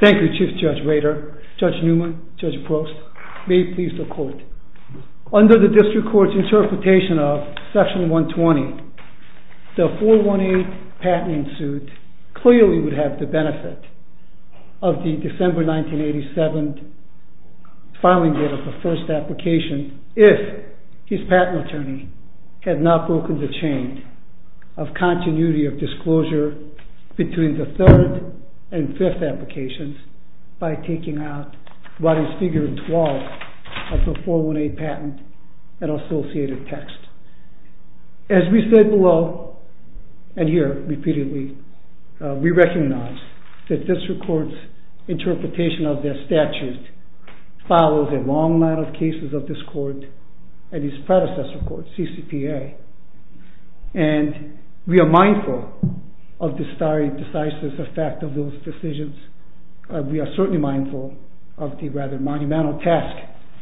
Thank you, Chief Judge Rader. Judge Neumann, Judge Prost, may it please the Court. Under the District Court's interpretation of Section 120, the 418 patent suit clearly would have the benefit of the December 1987 filing date of the first application if his patent attorney had not broken the chain of continuity of disclosure of the patent. between the third and fifth applications by taking out what is figure 12 of the 418 patent and associated text. As we said below and here repeatedly, we recognize that District Court's interpretation of their statute follows a long line of cases of this Court and its predecessor court, CCPA. And we are mindful of the starry, decisive effect of those decisions. We are certainly mindful of the rather monumental task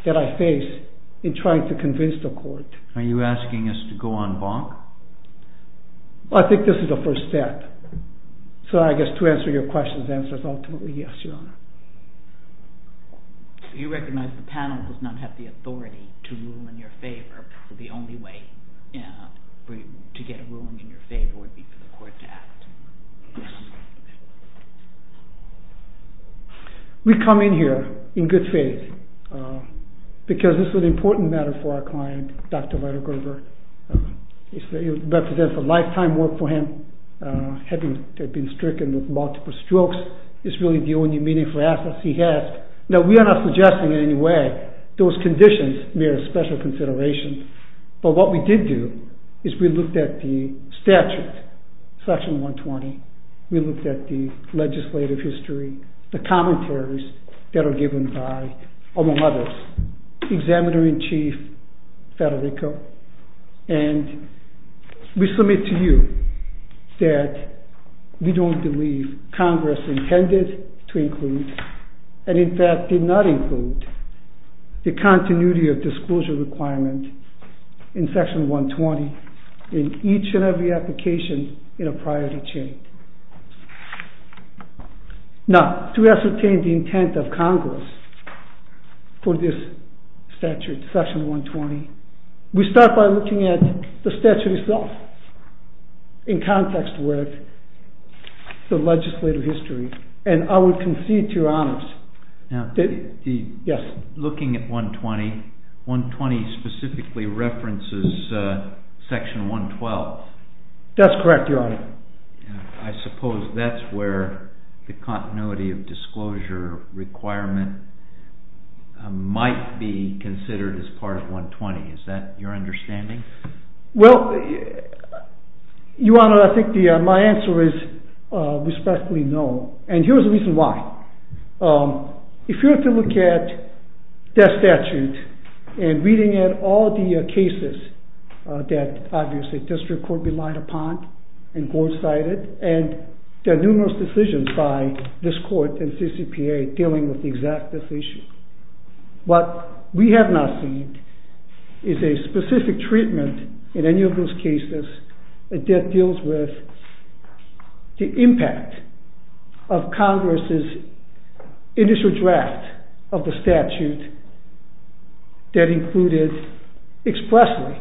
that I face in trying to convince the Court. Are you asking us to go on bonk? Well, I think this is the first step. So I guess to answer your question, the answer is ultimately yes, Your Honor. You recognize the panel does not have the authority to rule in your favor. The only way to get a ruling in your favor would be for the Court to act. We come in here in good faith because this is an important matter for our client, Dr. Weidegrover. It represents a lifetime work for him. Having been stricken with multiple strokes is really the only meaning for assets he has. Now, we are not suggesting in any way those conditions mere special considerations, but what we did do is we looked at the statute, section 120. We looked at the legislative history, the commentaries that are given by, among others, Examiner-in-Chief Federico. And we submit to you that we don't believe Congress intended to include, and in fact did not include, the continuity of disclosure requirement in section 120 in each and every application in a prior to change. Now, to ascertain the intent of Congress for this statute, section 120, we start by looking at the statute itself in context with the legislative history. And I would concede to Your Honors that, yes? Looking at 120, 120 specifically references section 112. That's correct, Your Honor. I suppose that's where the continuity of disclosure requirement might be considered as part of 120. Is that your understanding? Well, Your Honor, I think my answer is respectfully no. And here's the reason why. If you were to look at that statute and reading it, all the cases that, obviously, district court relied upon and courts cited, and the numerous decisions by this court and CCPA dealing with the exact decision. What we have not seen is a specific treatment in any of those cases that deals with the impact of Congress's initial draft of the statute that included expressly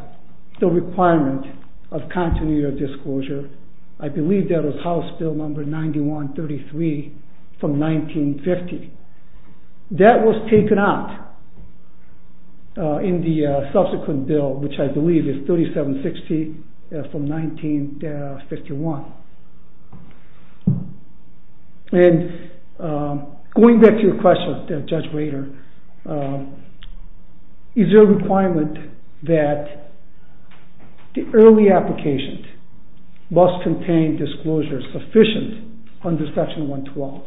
the requirement of continuity of disclosure. I believe that was House Bill number 9133 from 1950. That was taken out in the subsequent bill, which I believe is 3760 from 1951. And going back to your question, Judge Rader, is there a requirement that the early application must contain disclosure sufficient under section 112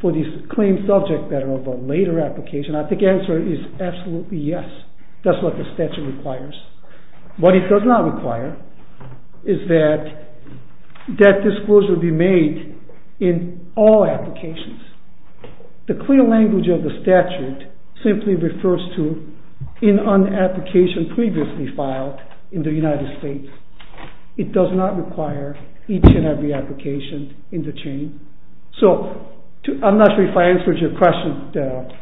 for the claim subject matter of a later application? I think the answer is absolutely yes. That's what the statute requires. What it does not require is that that disclosure be made in all applications. The clear language of the statute simply refers to an application previously filed in the United States. It does not require each and every application in the chain. I'm not sure if I answered your question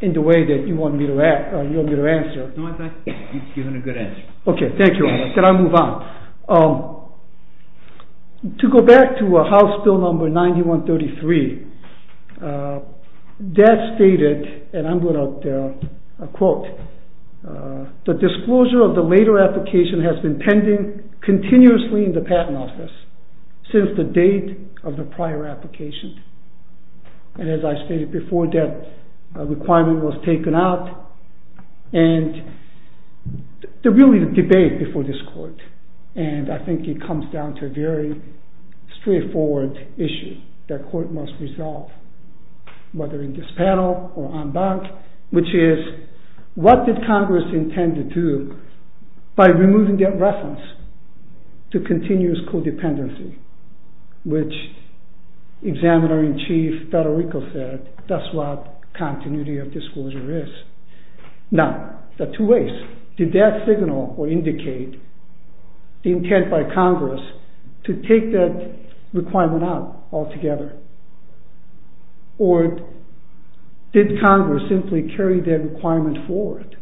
in the way that you wanted me to answer. No, I think you've given a good answer. Okay, thank you. Can I move on? To go back to House Bill number 9133, that stated, and I'm going to quote, the disclosure of the later application has been pending continuously in the Patent Office since the date of the prior application. And as I stated before, that requirement was taken out, and there really is a debate before this Court. And I think it comes down to a very straightforward issue that Court must resolve, whether in this panel or en banc, which is, what did Congress intend to do by removing that reference to continuous codependency, which Examiner-in-Chief Federico said, that's what continuity of disclosure is. Now, there are two ways. Did that signal or indicate the intent by Congress to take that requirement out altogether? Or did Congress simply carry that requirement forward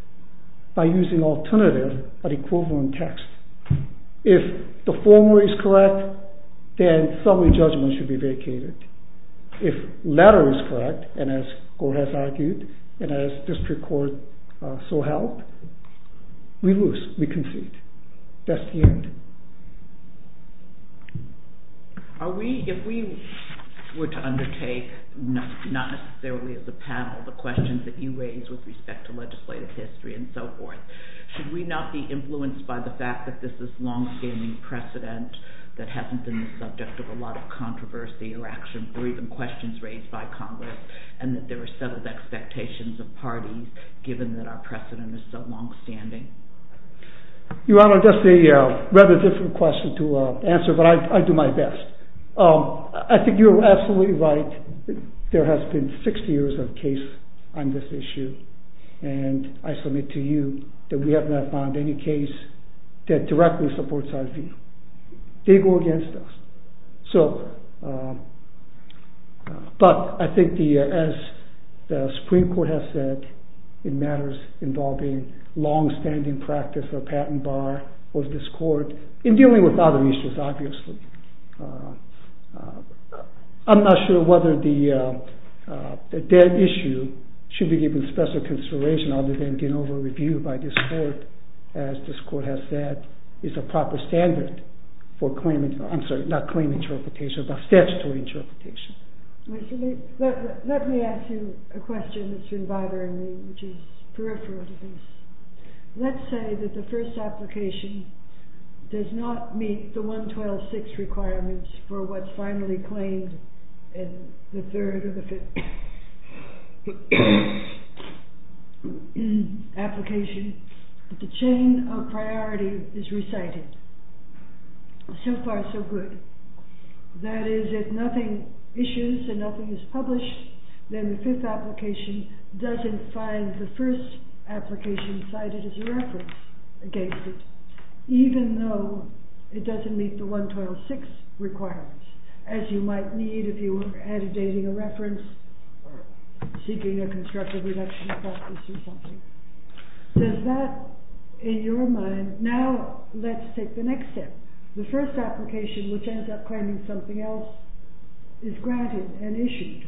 by using alternative but equivalent text? If the former is correct, then summary judgment should be vacated. If latter is correct, and as Gore has argued, and as District Court so held, we lose, we concede. That's the end. If we were to undertake, not necessarily as a panel, the questions that you raised with respect to legislative history and so forth, should we not be influenced by the fact that this is longstanding precedent that hasn't been the subject of a lot of controversy or action, or even questions raised by Congress, and that there are settled expectations of parties, given that our precedent is so longstanding? Your Honor, that's a rather difficult question to answer, but I do my best. I think you're absolutely right. There has been 60 years of case on this issue, and I submit to you that we have not found any case that directly supports our view. They go against us. But I think, as the Supreme Court has said, it matters involving longstanding practice or patent bar of this Court in dealing with other issues, obviously. I'm not sure whether that issue should be given special consideration other than being over-reviewed by this Court, as this Court has said is a proper standard for statutory interpretation. Let me ask you a question that's been bothering me, which is peripheral to this. Let's say that the first application does not meet the 112.6 requirements for what's finally claimed in the third or the fifth application, that the chain of priority is recited. So far, so good. That is, if nothing issues and nothing is published, then the fifth application doesn't find the first application cited as a reference against it, even though it doesn't meet the 112.6 requirements, as you might need if you were agitating a reference, seeking a constructive reduction of practice or something. Does that, in your mind, now let's take the next step. The first application, which ends up claiming something else, is granted and issued.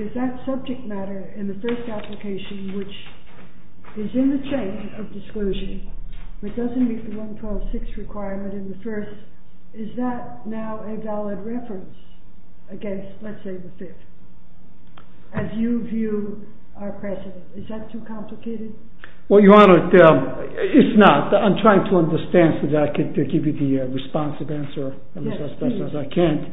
Is that subject matter in the first application, which is in the state of disclosure, which doesn't meet the 112.6 requirement in the first, is that now a valid reference against, let's say, the fifth, as you view our precedent? Is that too complicated? Well, Your Honor, it's not. I'm trying to understand so that I can give you the responsive answer as best as I can.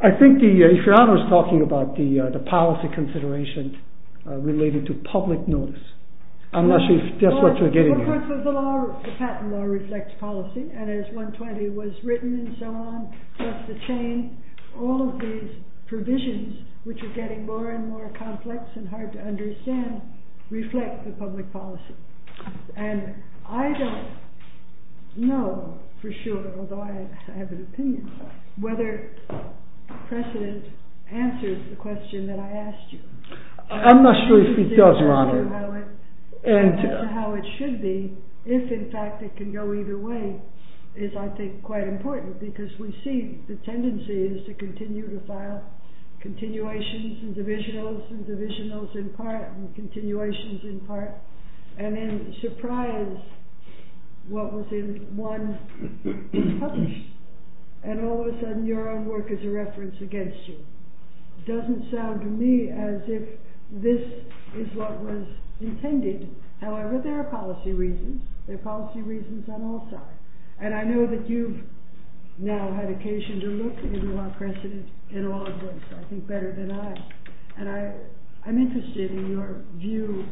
I think the, if Your Honor is talking about the policy consideration related to public notice, I'm not sure if that's what you're getting at. Well, of course, the patent law reflects policy, and as 120 was written and so on, plus the chain, all of these provisions, which are getting more and more complex and hard to understand, reflect the public policy. And I don't know for sure, although I have an opinion, whether precedent answers the question that I asked you. I'm not sure if it does, Your Honor. And as to how it should be, if in fact it can go either way, is, I think, quite important, because we see the tendency is to continue to file continuations and divisionals and divisionals in part and continuations in part, and then surprise what was in one publication, and all of a sudden your own work is a reference against you. It doesn't sound to me as if this is what was intended. However, there are policy reasons. There are policy reasons on all sides. And I know that you've now had occasion to look into our precedent in all of those, I think better than I have. And I'm interested in your view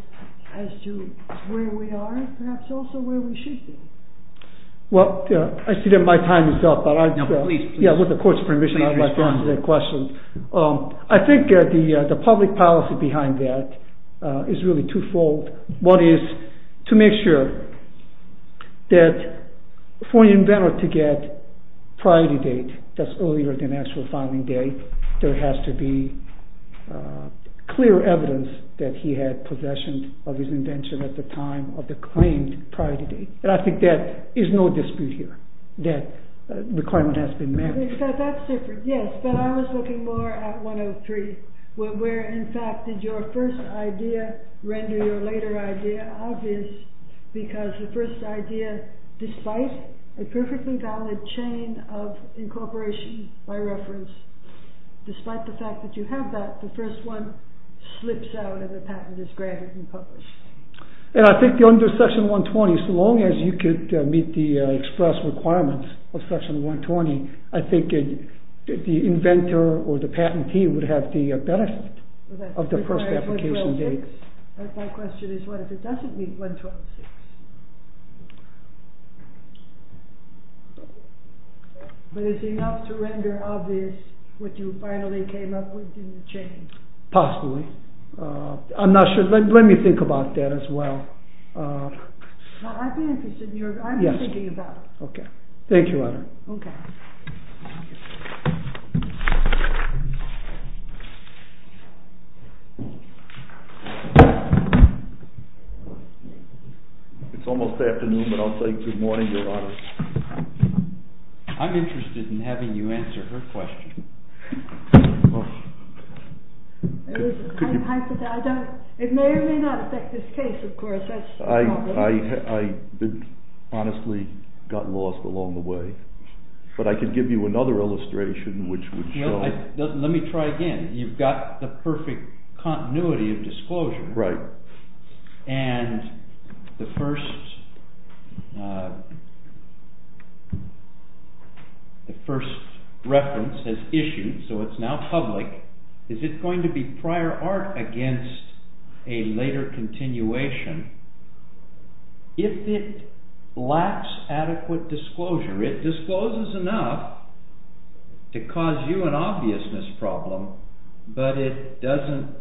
as to where we are and perhaps also where we should be. Well, I see that my time is up. No, please, please. Yeah, with the Court's permission, I'd like to answer that question. I think the public policy behind that is really twofold. One is to make sure that for an inventor to get priority date that's earlier than actual filing date, there has to be clear evidence that he had possession of his invention at the time of the claimed priority date. And I think there is no dispute here that the claimant has been married. That's different, yes. But I was looking more at 103, where in fact did your first idea render your later idea obvious, because the first idea, despite a perfectly valid chain of incorporation by reference, despite the fact that you have that, the first one slips out of the patent as granted and published. And I think under Section 120, so long as you could meet the express requirements of Section 120, I think the inventor or the patentee would have the benefit of the first application date. My question is what if it doesn't meet 126? But is it enough to render obvious what you finally came up with in the chain? Possibly. Possibly. I'm not sure. Let me think about that as well. I've been interested in your idea. I've been thinking about it. Okay. Thank you, Honor. Okay. It's almost afternoon, but I'll say good morning, Your Honor. I'm interested in having you answer her question. It may or may not affect this case, of course. I honestly got lost along the way. But I could give you another illustration which would show. Let me try again. Right. And the first reference is issued, so it's now public. Is it going to be prior art against a later continuation? If it lacks adequate disclosure, it discloses enough to cause you an obviousness problem, but it doesn't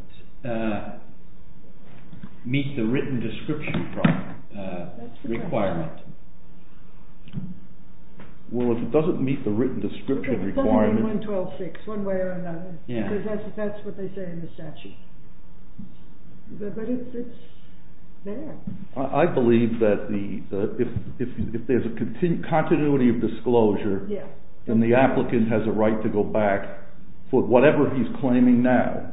meet the written description requirement. Well, if it doesn't meet the written description requirement. It's only 112.6, one way or another. Yeah. Because that's what they say in the statute. But it's there. I believe that if there's a continuity of disclosure, then the applicant has a right to go back for whatever he's claiming now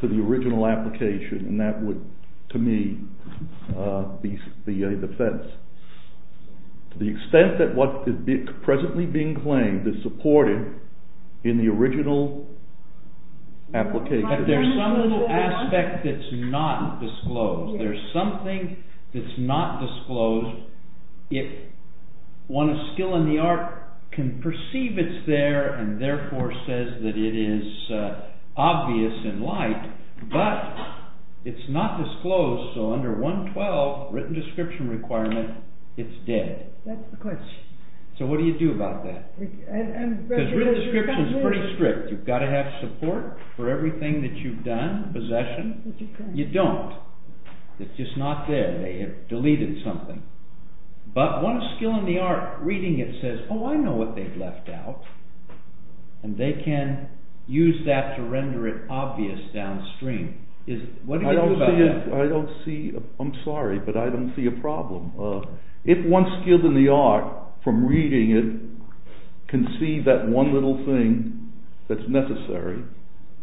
to the original application, and that would, to me, be a defense. To the extent that what is presently being claimed is supported in the original application. But there's some little aspect that's not disclosed. There's something that's not disclosed. If one of skill in the art can perceive it's there and therefore says that it is obvious in light, but it's not disclosed, so under 112 written description requirement, it's dead. That's the question. So what do you do about that? Because written description is pretty strict. You've got to have support for everything that you've done, possession. You don't. It's just not there. They have deleted something. But one skill in the art, reading it says, oh, I know what they've left out, and they can use that to render it obvious downstream. What do you do about that? I don't see, I'm sorry, but I don't see a problem. If one skill in the art, from reading it, can see that one little thing that's necessary,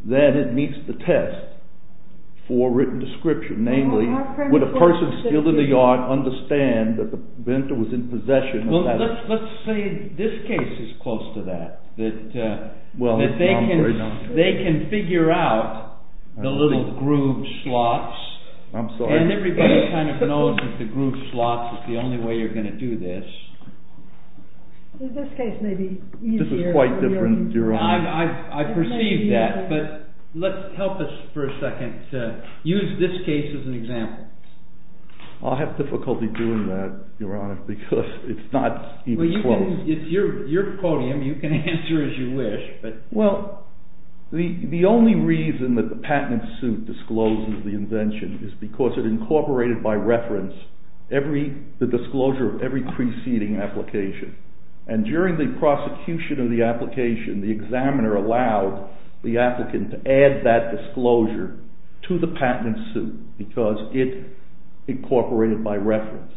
then it meets the test for written description. Namely, would a person's skill in the art understand that the bento was in possession? Well, let's say this case is close to that, that they can figure out the little groove slots. I'm sorry. And everybody kind of knows that the groove slots is the only way you're going to do this. This case may be easier. This is quite different. I perceive that. But let's help us for a second to use this case as an example. I'll have difficulty doing that, Your Honor, because it's not even close. Well, it's your podium. You can answer as you wish. Well, the only reason that the patent suit discloses the invention is because it incorporated by reference the disclosure of every preceding application. And during the prosecution of the application, the examiner allowed the applicant to add that disclosure to the patent suit because it incorporated by reference.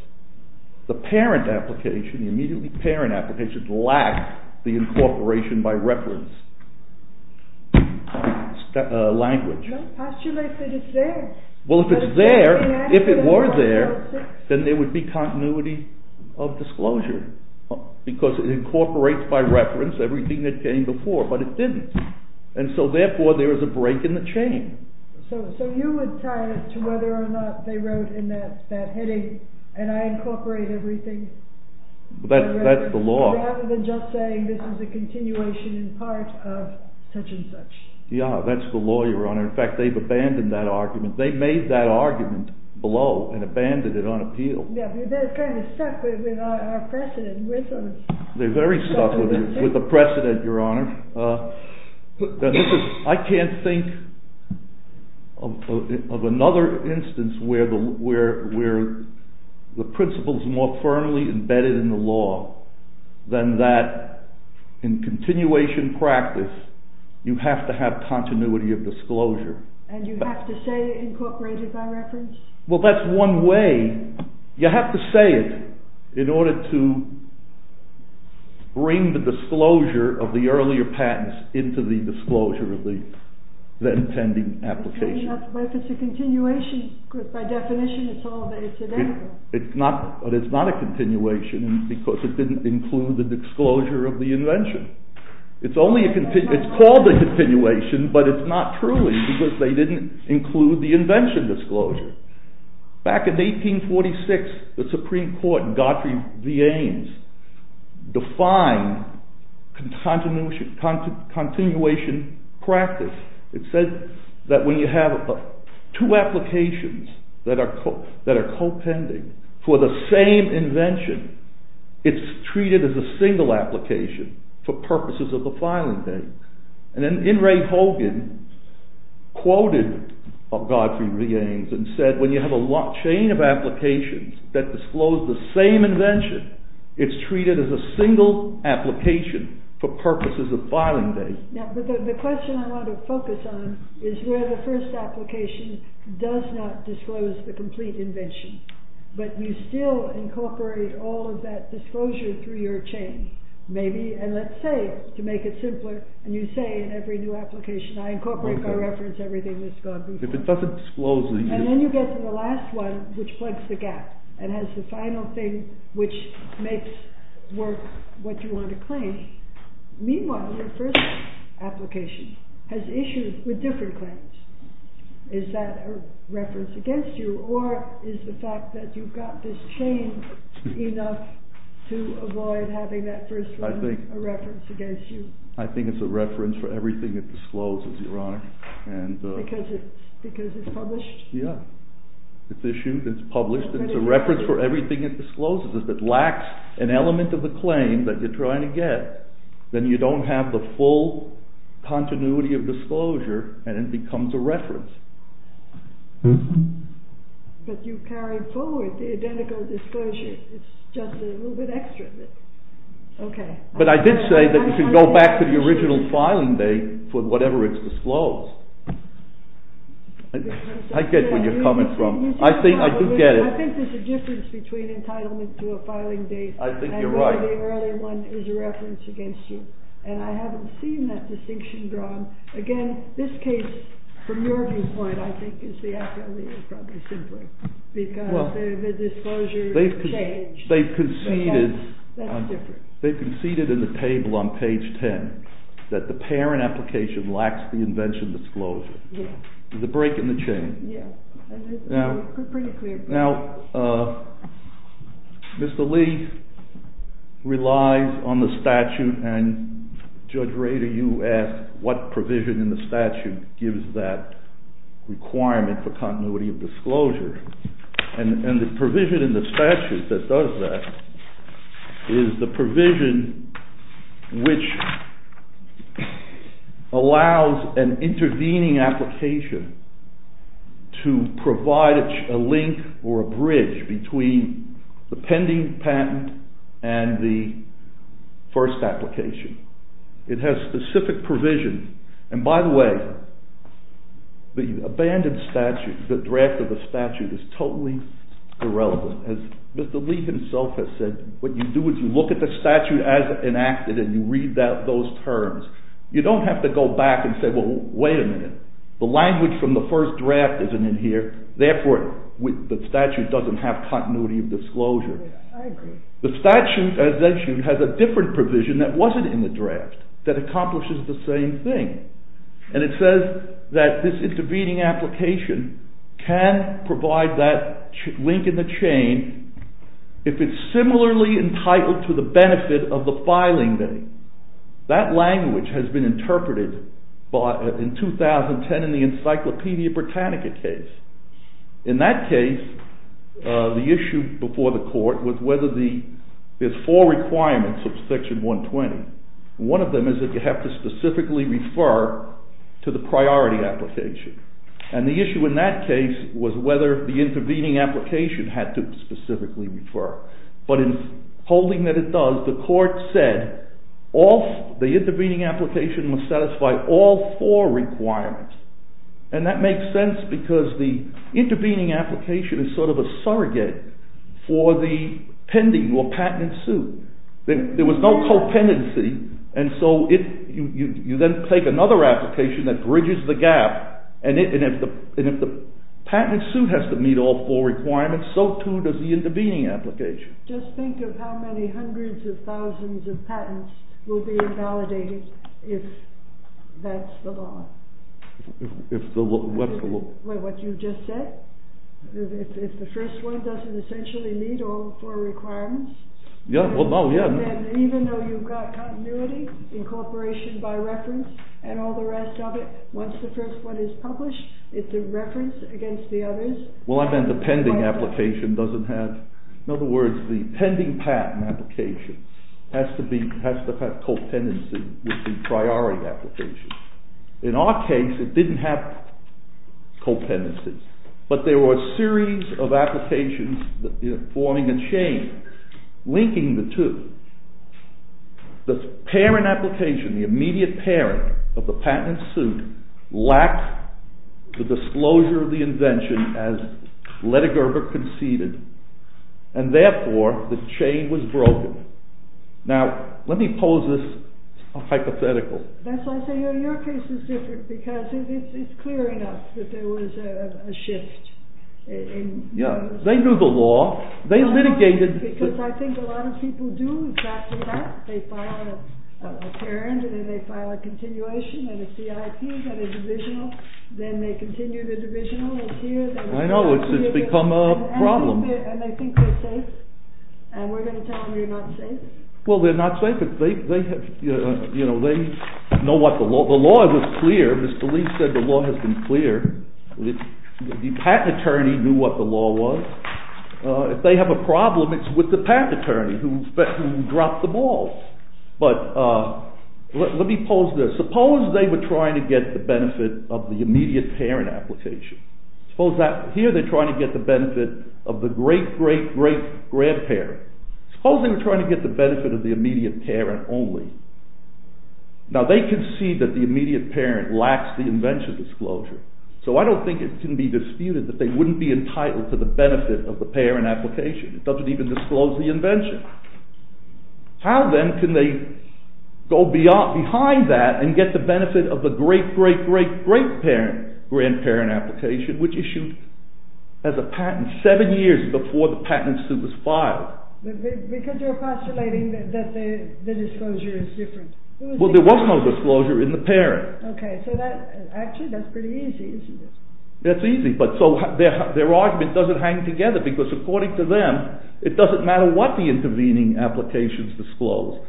The parent application, the immediately parent application, lacked the incorporation by reference language. How should I say it's there? Well, if it's there, if it were there, then there would be continuity of disclosure because it incorporates by reference everything that came before, but it didn't. And so, therefore, there is a break in the chain. So you would tie it to whether or not they wrote in that heading, and I incorporate everything by reference rather than just saying this is a continuation in part of such and such. Yeah, that's the law, Your Honor. In fact, they've abandoned that argument. They made that argument below and abandoned it on appeal. Yeah, but they're kind of stuck with our precedent. They're very stuck with the precedent, Your Honor. I can't think of another instance where the principle is more firmly embedded in the law than that in continuation practice you have to have continuity of disclosure. And you have to say incorporated by reference? Well, that's one way. You have to say it in order to bring the disclosure of the earlier patents into the disclosure of the then pending application. But if it's a continuation, by definition, it's all there today. But it's not a continuation because it didn't include the disclosure of the invention. It's called a continuation, but it's not truly because they didn't include the invention disclosure. Back in 1846, the Supreme Court in Godfrey v. Ames defined continuation practice. It said that when you have two applications that are co-pending for the same invention, it's treated as a single application for purposes of the filing date. And then In re Hogan quoted Godfrey v. Ames and said, when you have a chain of applications that disclose the same invention, it's treated as a single application for purposes of filing date. The question I want to focus on is where the first application does not disclose the complete invention, but you still incorporate all of that disclosure through your chain. Maybe, and let's say, to make it simpler, and you say in every new application, I incorporate by reference everything that's gone before. And then you get to the last one which plugs the gap and has the final thing which makes work what you want to claim. Meanwhile, your first application has issues with different claims. Is that a reference against you, or is the fact that you've got this chain enough to avoid having that first one a reference against you? I think it's a reference for everything it discloses, Your Honor. Because it's published? Yeah. It's issued, it's published, it's a reference for everything it discloses. If it lacks an element of the claim that you're trying to get, then you don't have the full continuity of disclosure, and it becomes a reference. But you carry forward the identical disclosure. It's just a little bit extra. But I did say that you can go back to the original filing date for whatever it's disclosed. I get where you're coming from. I do get it. I think there's a difference between entitlement to a filing date and the earlier one that was a reference against you. And I haven't seen that distinction drawn. Again, this case, from your viewpoint, I think, is the actual legal problem, simply. Because the disclosure has changed. They've conceded in the table on page 10 that the parent application lacks the invention disclosure. There's a break in the chain. Now, Mr. Lee relies on the statute, and Judge Rader, you asked what provision in the statute gives that requirement for continuity of disclosure. And the provision in the statute that does that is the provision which allows an intervening application to provide a link or a bridge between the pending patent and the first application. It has specific provision. And by the way, the abandoned statute, the draft of the statute, is totally irrelevant. As Mr. Lee himself has said, what you do is you look at the statute as enacted and you read those terms. You don't have to go back and say, well, wait a minute. The language from the first draft isn't in here. Therefore, the statute doesn't have continuity of disclosure. The statute, as I mentioned, has a different provision that wasn't in the draft that accomplishes the same thing. And it says that this intervening application can provide that link in the chain if it's similarly entitled to the benefit of the filing date. That language has been interpreted in 2010 in the Encyclopedia Britannica case. In that case, the issue before the court was whether there's four requirements of Section 120. One of them is that you have to specifically refer to the priority application. And the issue in that case was whether the intervening application had to specifically refer. But in holding that it does, the court said the intervening application must satisfy all four requirements. And that makes sense because the intervening application is sort of a surrogate for the pending or patented suit. There was no co-pendency, and so you then take another application that bridges the gap. And if the patented suit has to meet all four requirements, so too does the intervening application. Just think of how many hundreds of thousands of patents will be invalidated if that's the law. What's the law? What you just said. If the first one doesn't essentially meet all four requirements, then even though you've got continuity, incorporation by reference, and all the rest of it, once the first one is published, it's a reference against the others. Well, I meant the pending application doesn't have... In other words, the pending patent application has to have co-pendency with the priority application. In our case, it didn't have co-pendency. But there were a series of applications forming a chain linking the two. The parent application, the immediate parent of the patent suit, lacked the disclosure of the invention as Lettigerber conceded, and therefore the chain was broken. Now, let me pose this hypothetical. That's why I say your case is different, because it's clear enough that there was a shift. Yeah, they knew the law. Because I think a lot of people do exactly that. They file a parent, and then they file a continuation, and a CIP, and a divisional. Then they continue the divisional. I know, it's become a problem. And they think they're safe. And we're going to tell them they're not safe. Well, they're not safe. They know what the law... The law was clear. Mr. Lee said the law has been clear. The patent attorney knew what the law was. If they have a problem, it's with the patent attorney who dropped the ball. But let me pose this. Suppose they were trying to get the benefit of the immediate parent application. Suppose that here they're trying to get the benefit of the great, great, great grandparent. Suppose they were trying to get the benefit of the immediate parent only. Now, they can see that the immediate parent lacks the invention disclosure. So I don't think it can be disputed that they wouldn't be entitled to the benefit of the parent application. It doesn't even disclose the invention. How, then, can they go behind that and get the benefit of the great, great, great, great grandparent application, which issued as a patent seven years before the patent suit was filed? Because you're postulating that the disclosure is different. Well, there was no disclosure in the parent. Okay, so that... Actually, that's pretty easy, isn't it? That's easy, but so their argument doesn't hang together, because according to them, it doesn't matter what the intervening applications disclose.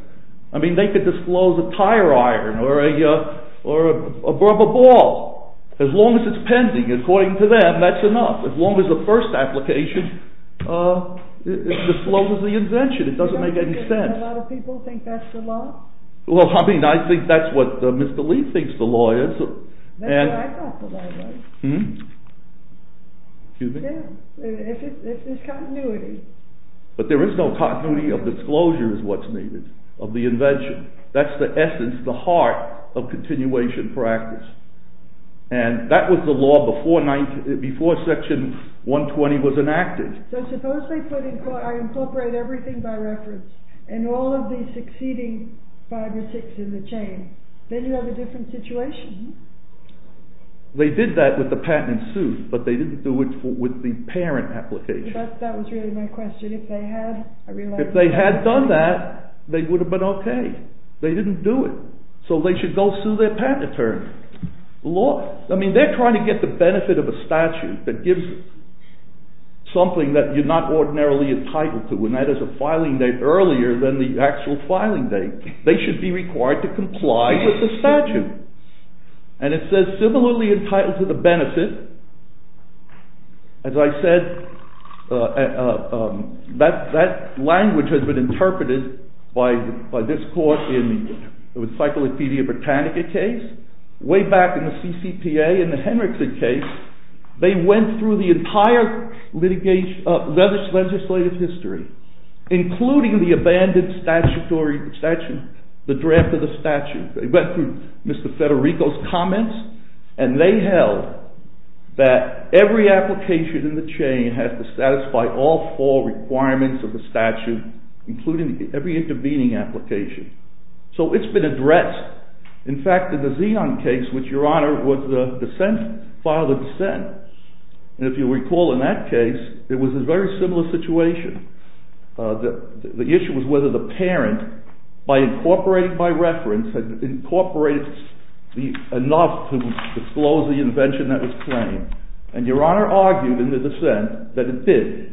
I mean, they could disclose a tire iron or a rubber ball. As long as it's pending, according to them, that's enough. As long as the first application discloses the invention, it doesn't make any sense. A lot of people think that's the law? Well, I mean, I think that's what Mr. Lee thinks the law is. That's what I thought the law was. Hmm? Excuse me? Yeah, it's continuity. But there is no continuity of disclosure is what's needed, of the invention. That's the essence, the heart of continuation practice. And that was the law before section 120 was enacted. So, suppose they put in... I incorporate everything by reference, and all of the succeeding five or six in the chain. Then you have a different situation. They did that with the patent in suit, but they didn't do it with the parent application. That was really my question. If they had... If they had done that, they would have been okay. They didn't do it. So they should go sue their patent attorney. I mean, they're trying to get the benefit of a statute that gives something that you're not ordinarily entitled to, and that is a filing date earlier than the actual filing date. They should be required to comply with the statute. And it says, similarly entitled to the benefit. As I said, that language has been interpreted by this court in the Encyclopedia Britannica case. Way back in the CCPA, in the Henrickson case, they went through the entire legislative history, including the abandoned statute, the draft of the statute. They went through Mr. Federico's comments, and they held that every application in the chain has to satisfy all four requirements of the statute, including every intervening application. So it's been addressed. In fact, in the Zeon case, which, Your Honor, was a dissent, filed a dissent. And if you recall in that case, it was a very similar situation. The issue was whether the parent, by incorporating by reference, had incorporated enough to disclose the invention that was claimed. And Your Honor argued in the dissent that it did.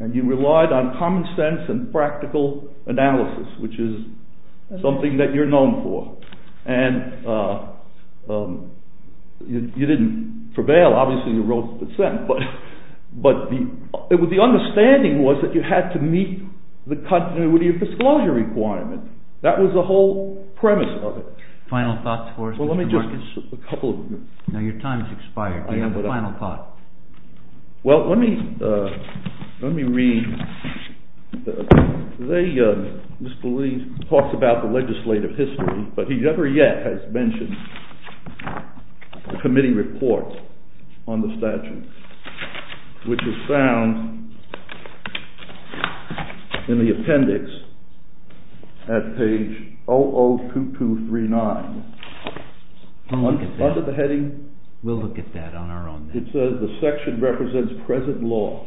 And you relied on common sense and practical analysis, which is something that you're known for. And you didn't prevail. Obviously, you wrote the dissent. But the understanding was that you had to meet the continuity of disclosure requirement. That was the whole premise of it. Final thoughts for us, Mr. Markins? Well, let me just... Now, your time has expired. Do you have a final thought? Well, let me read... Mr. Lee talks about the legislative history, but he never yet has mentioned the committee report on the statute, which is found in the appendix at page 002239. We'll look at that. Under the heading... We'll look at that on our own. It says the section represents present law,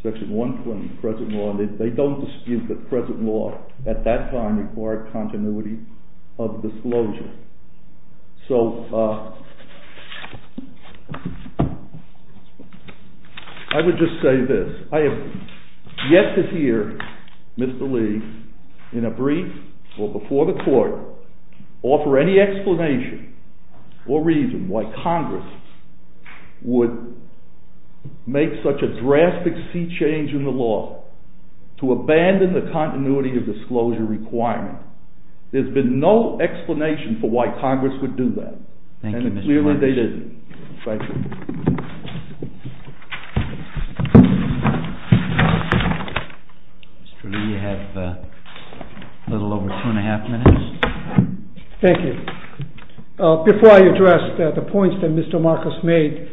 section 120, present law. They don't dispute that present law at that time required continuity of disclosure. I would just say this. I have yet to hear Mr. Lee, in a brief or before the court, offer any explanation or reason why Congress would make such a drastic sea change in the law to abandon the continuity of disclosure requirement. There's been no explanation for why Congress would do that. And clearly they didn't. Thank you. Mr. Lee, you have a little over two and a half minutes. Thank you. Before I address the points that Mr. Marcus made,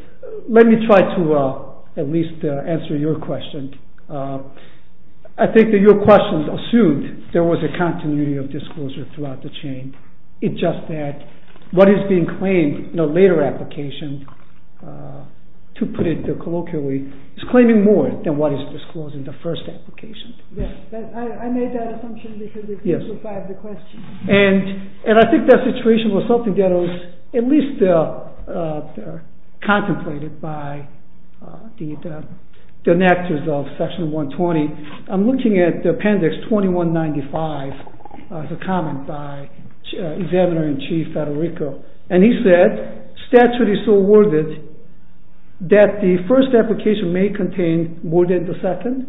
let me try to at least answer your question. I think that your question assumed there was a continuity of disclosure throughout the chain. It's just that what is being claimed in a later application, to put it colloquially, is claiming more than what is disclosed in the first application. Yes, I made that assumption because it was part of the question. And I think that situation was something that was at least contemplated by the enactors of section 120. I'm looking at appendix 2195. It's a comment by Examiner-in-Chief Federico. And he said, statute is so worded that the first application may contain more than the second,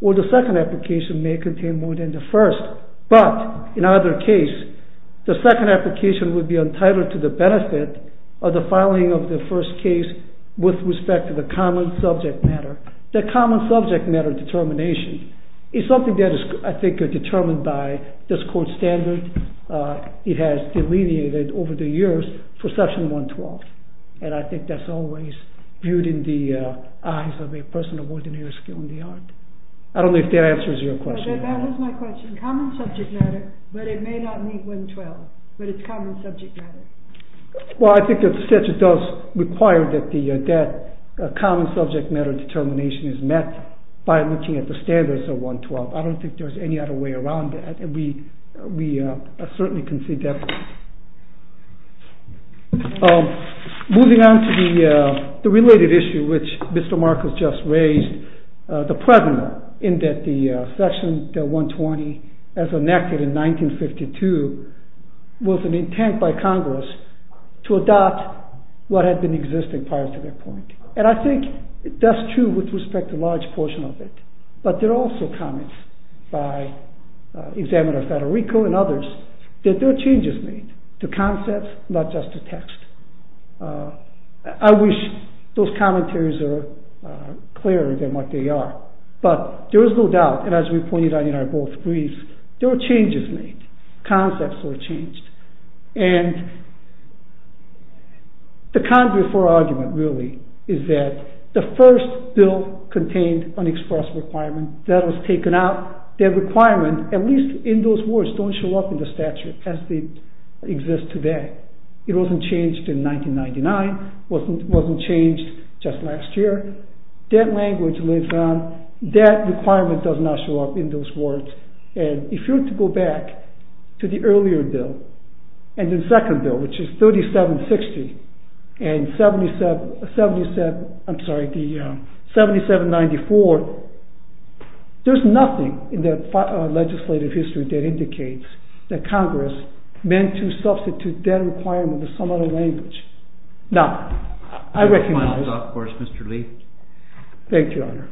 or the second application may contain more than the first. But, in either case, the second application would be entitled to the benefit of the filing of the first case with respect to the common subject matter. The common subject matter determination is something that is, I think, determined by this court standard. It has delineated over the years for section 112. And I think that's always viewed in the eyes of a person of ordinary skill in the art. I don't know if that answers your question. That is my question. Common subject matter, but it may not meet 112. But it's common subject matter. Well, I think that the statute does require that the common subject matter determination is met by looking at the standards of 112. I don't think there's any other way around that. We certainly can see that. Moving on to the related issue which Mr. Marcus just raised, the pregnant, in that the section 120, as enacted in 1952, was an intent by Congress to adopt what had been existing prior to that point. And I think that's true with respect to a large portion of it. But there are also comments by Examiner Federico and others that there are changes made to concepts, not just to text. I wish those commentaries were clearer than what they are. But there is no doubt, and as we pointed out in our both briefs, there are changes made. Concepts were changed. And the conduit for argument, really, is that the first bill contained an express requirement. That was taken out. That requirement, at least in those words, don't show up in the statute as they exist today. It wasn't changed in 1999. It wasn't changed just last year. That language lives on. That requirement does not show up in those words. And if you were to go back to the earlier bill and the second bill, which is 3760 and 7794, there's nothing in the legislative history that indicates that Congress meant to substitute that requirement with some other language. Now, I recognize... Final thoughts, of course, Mr. Lee. Thank you, Your Honor.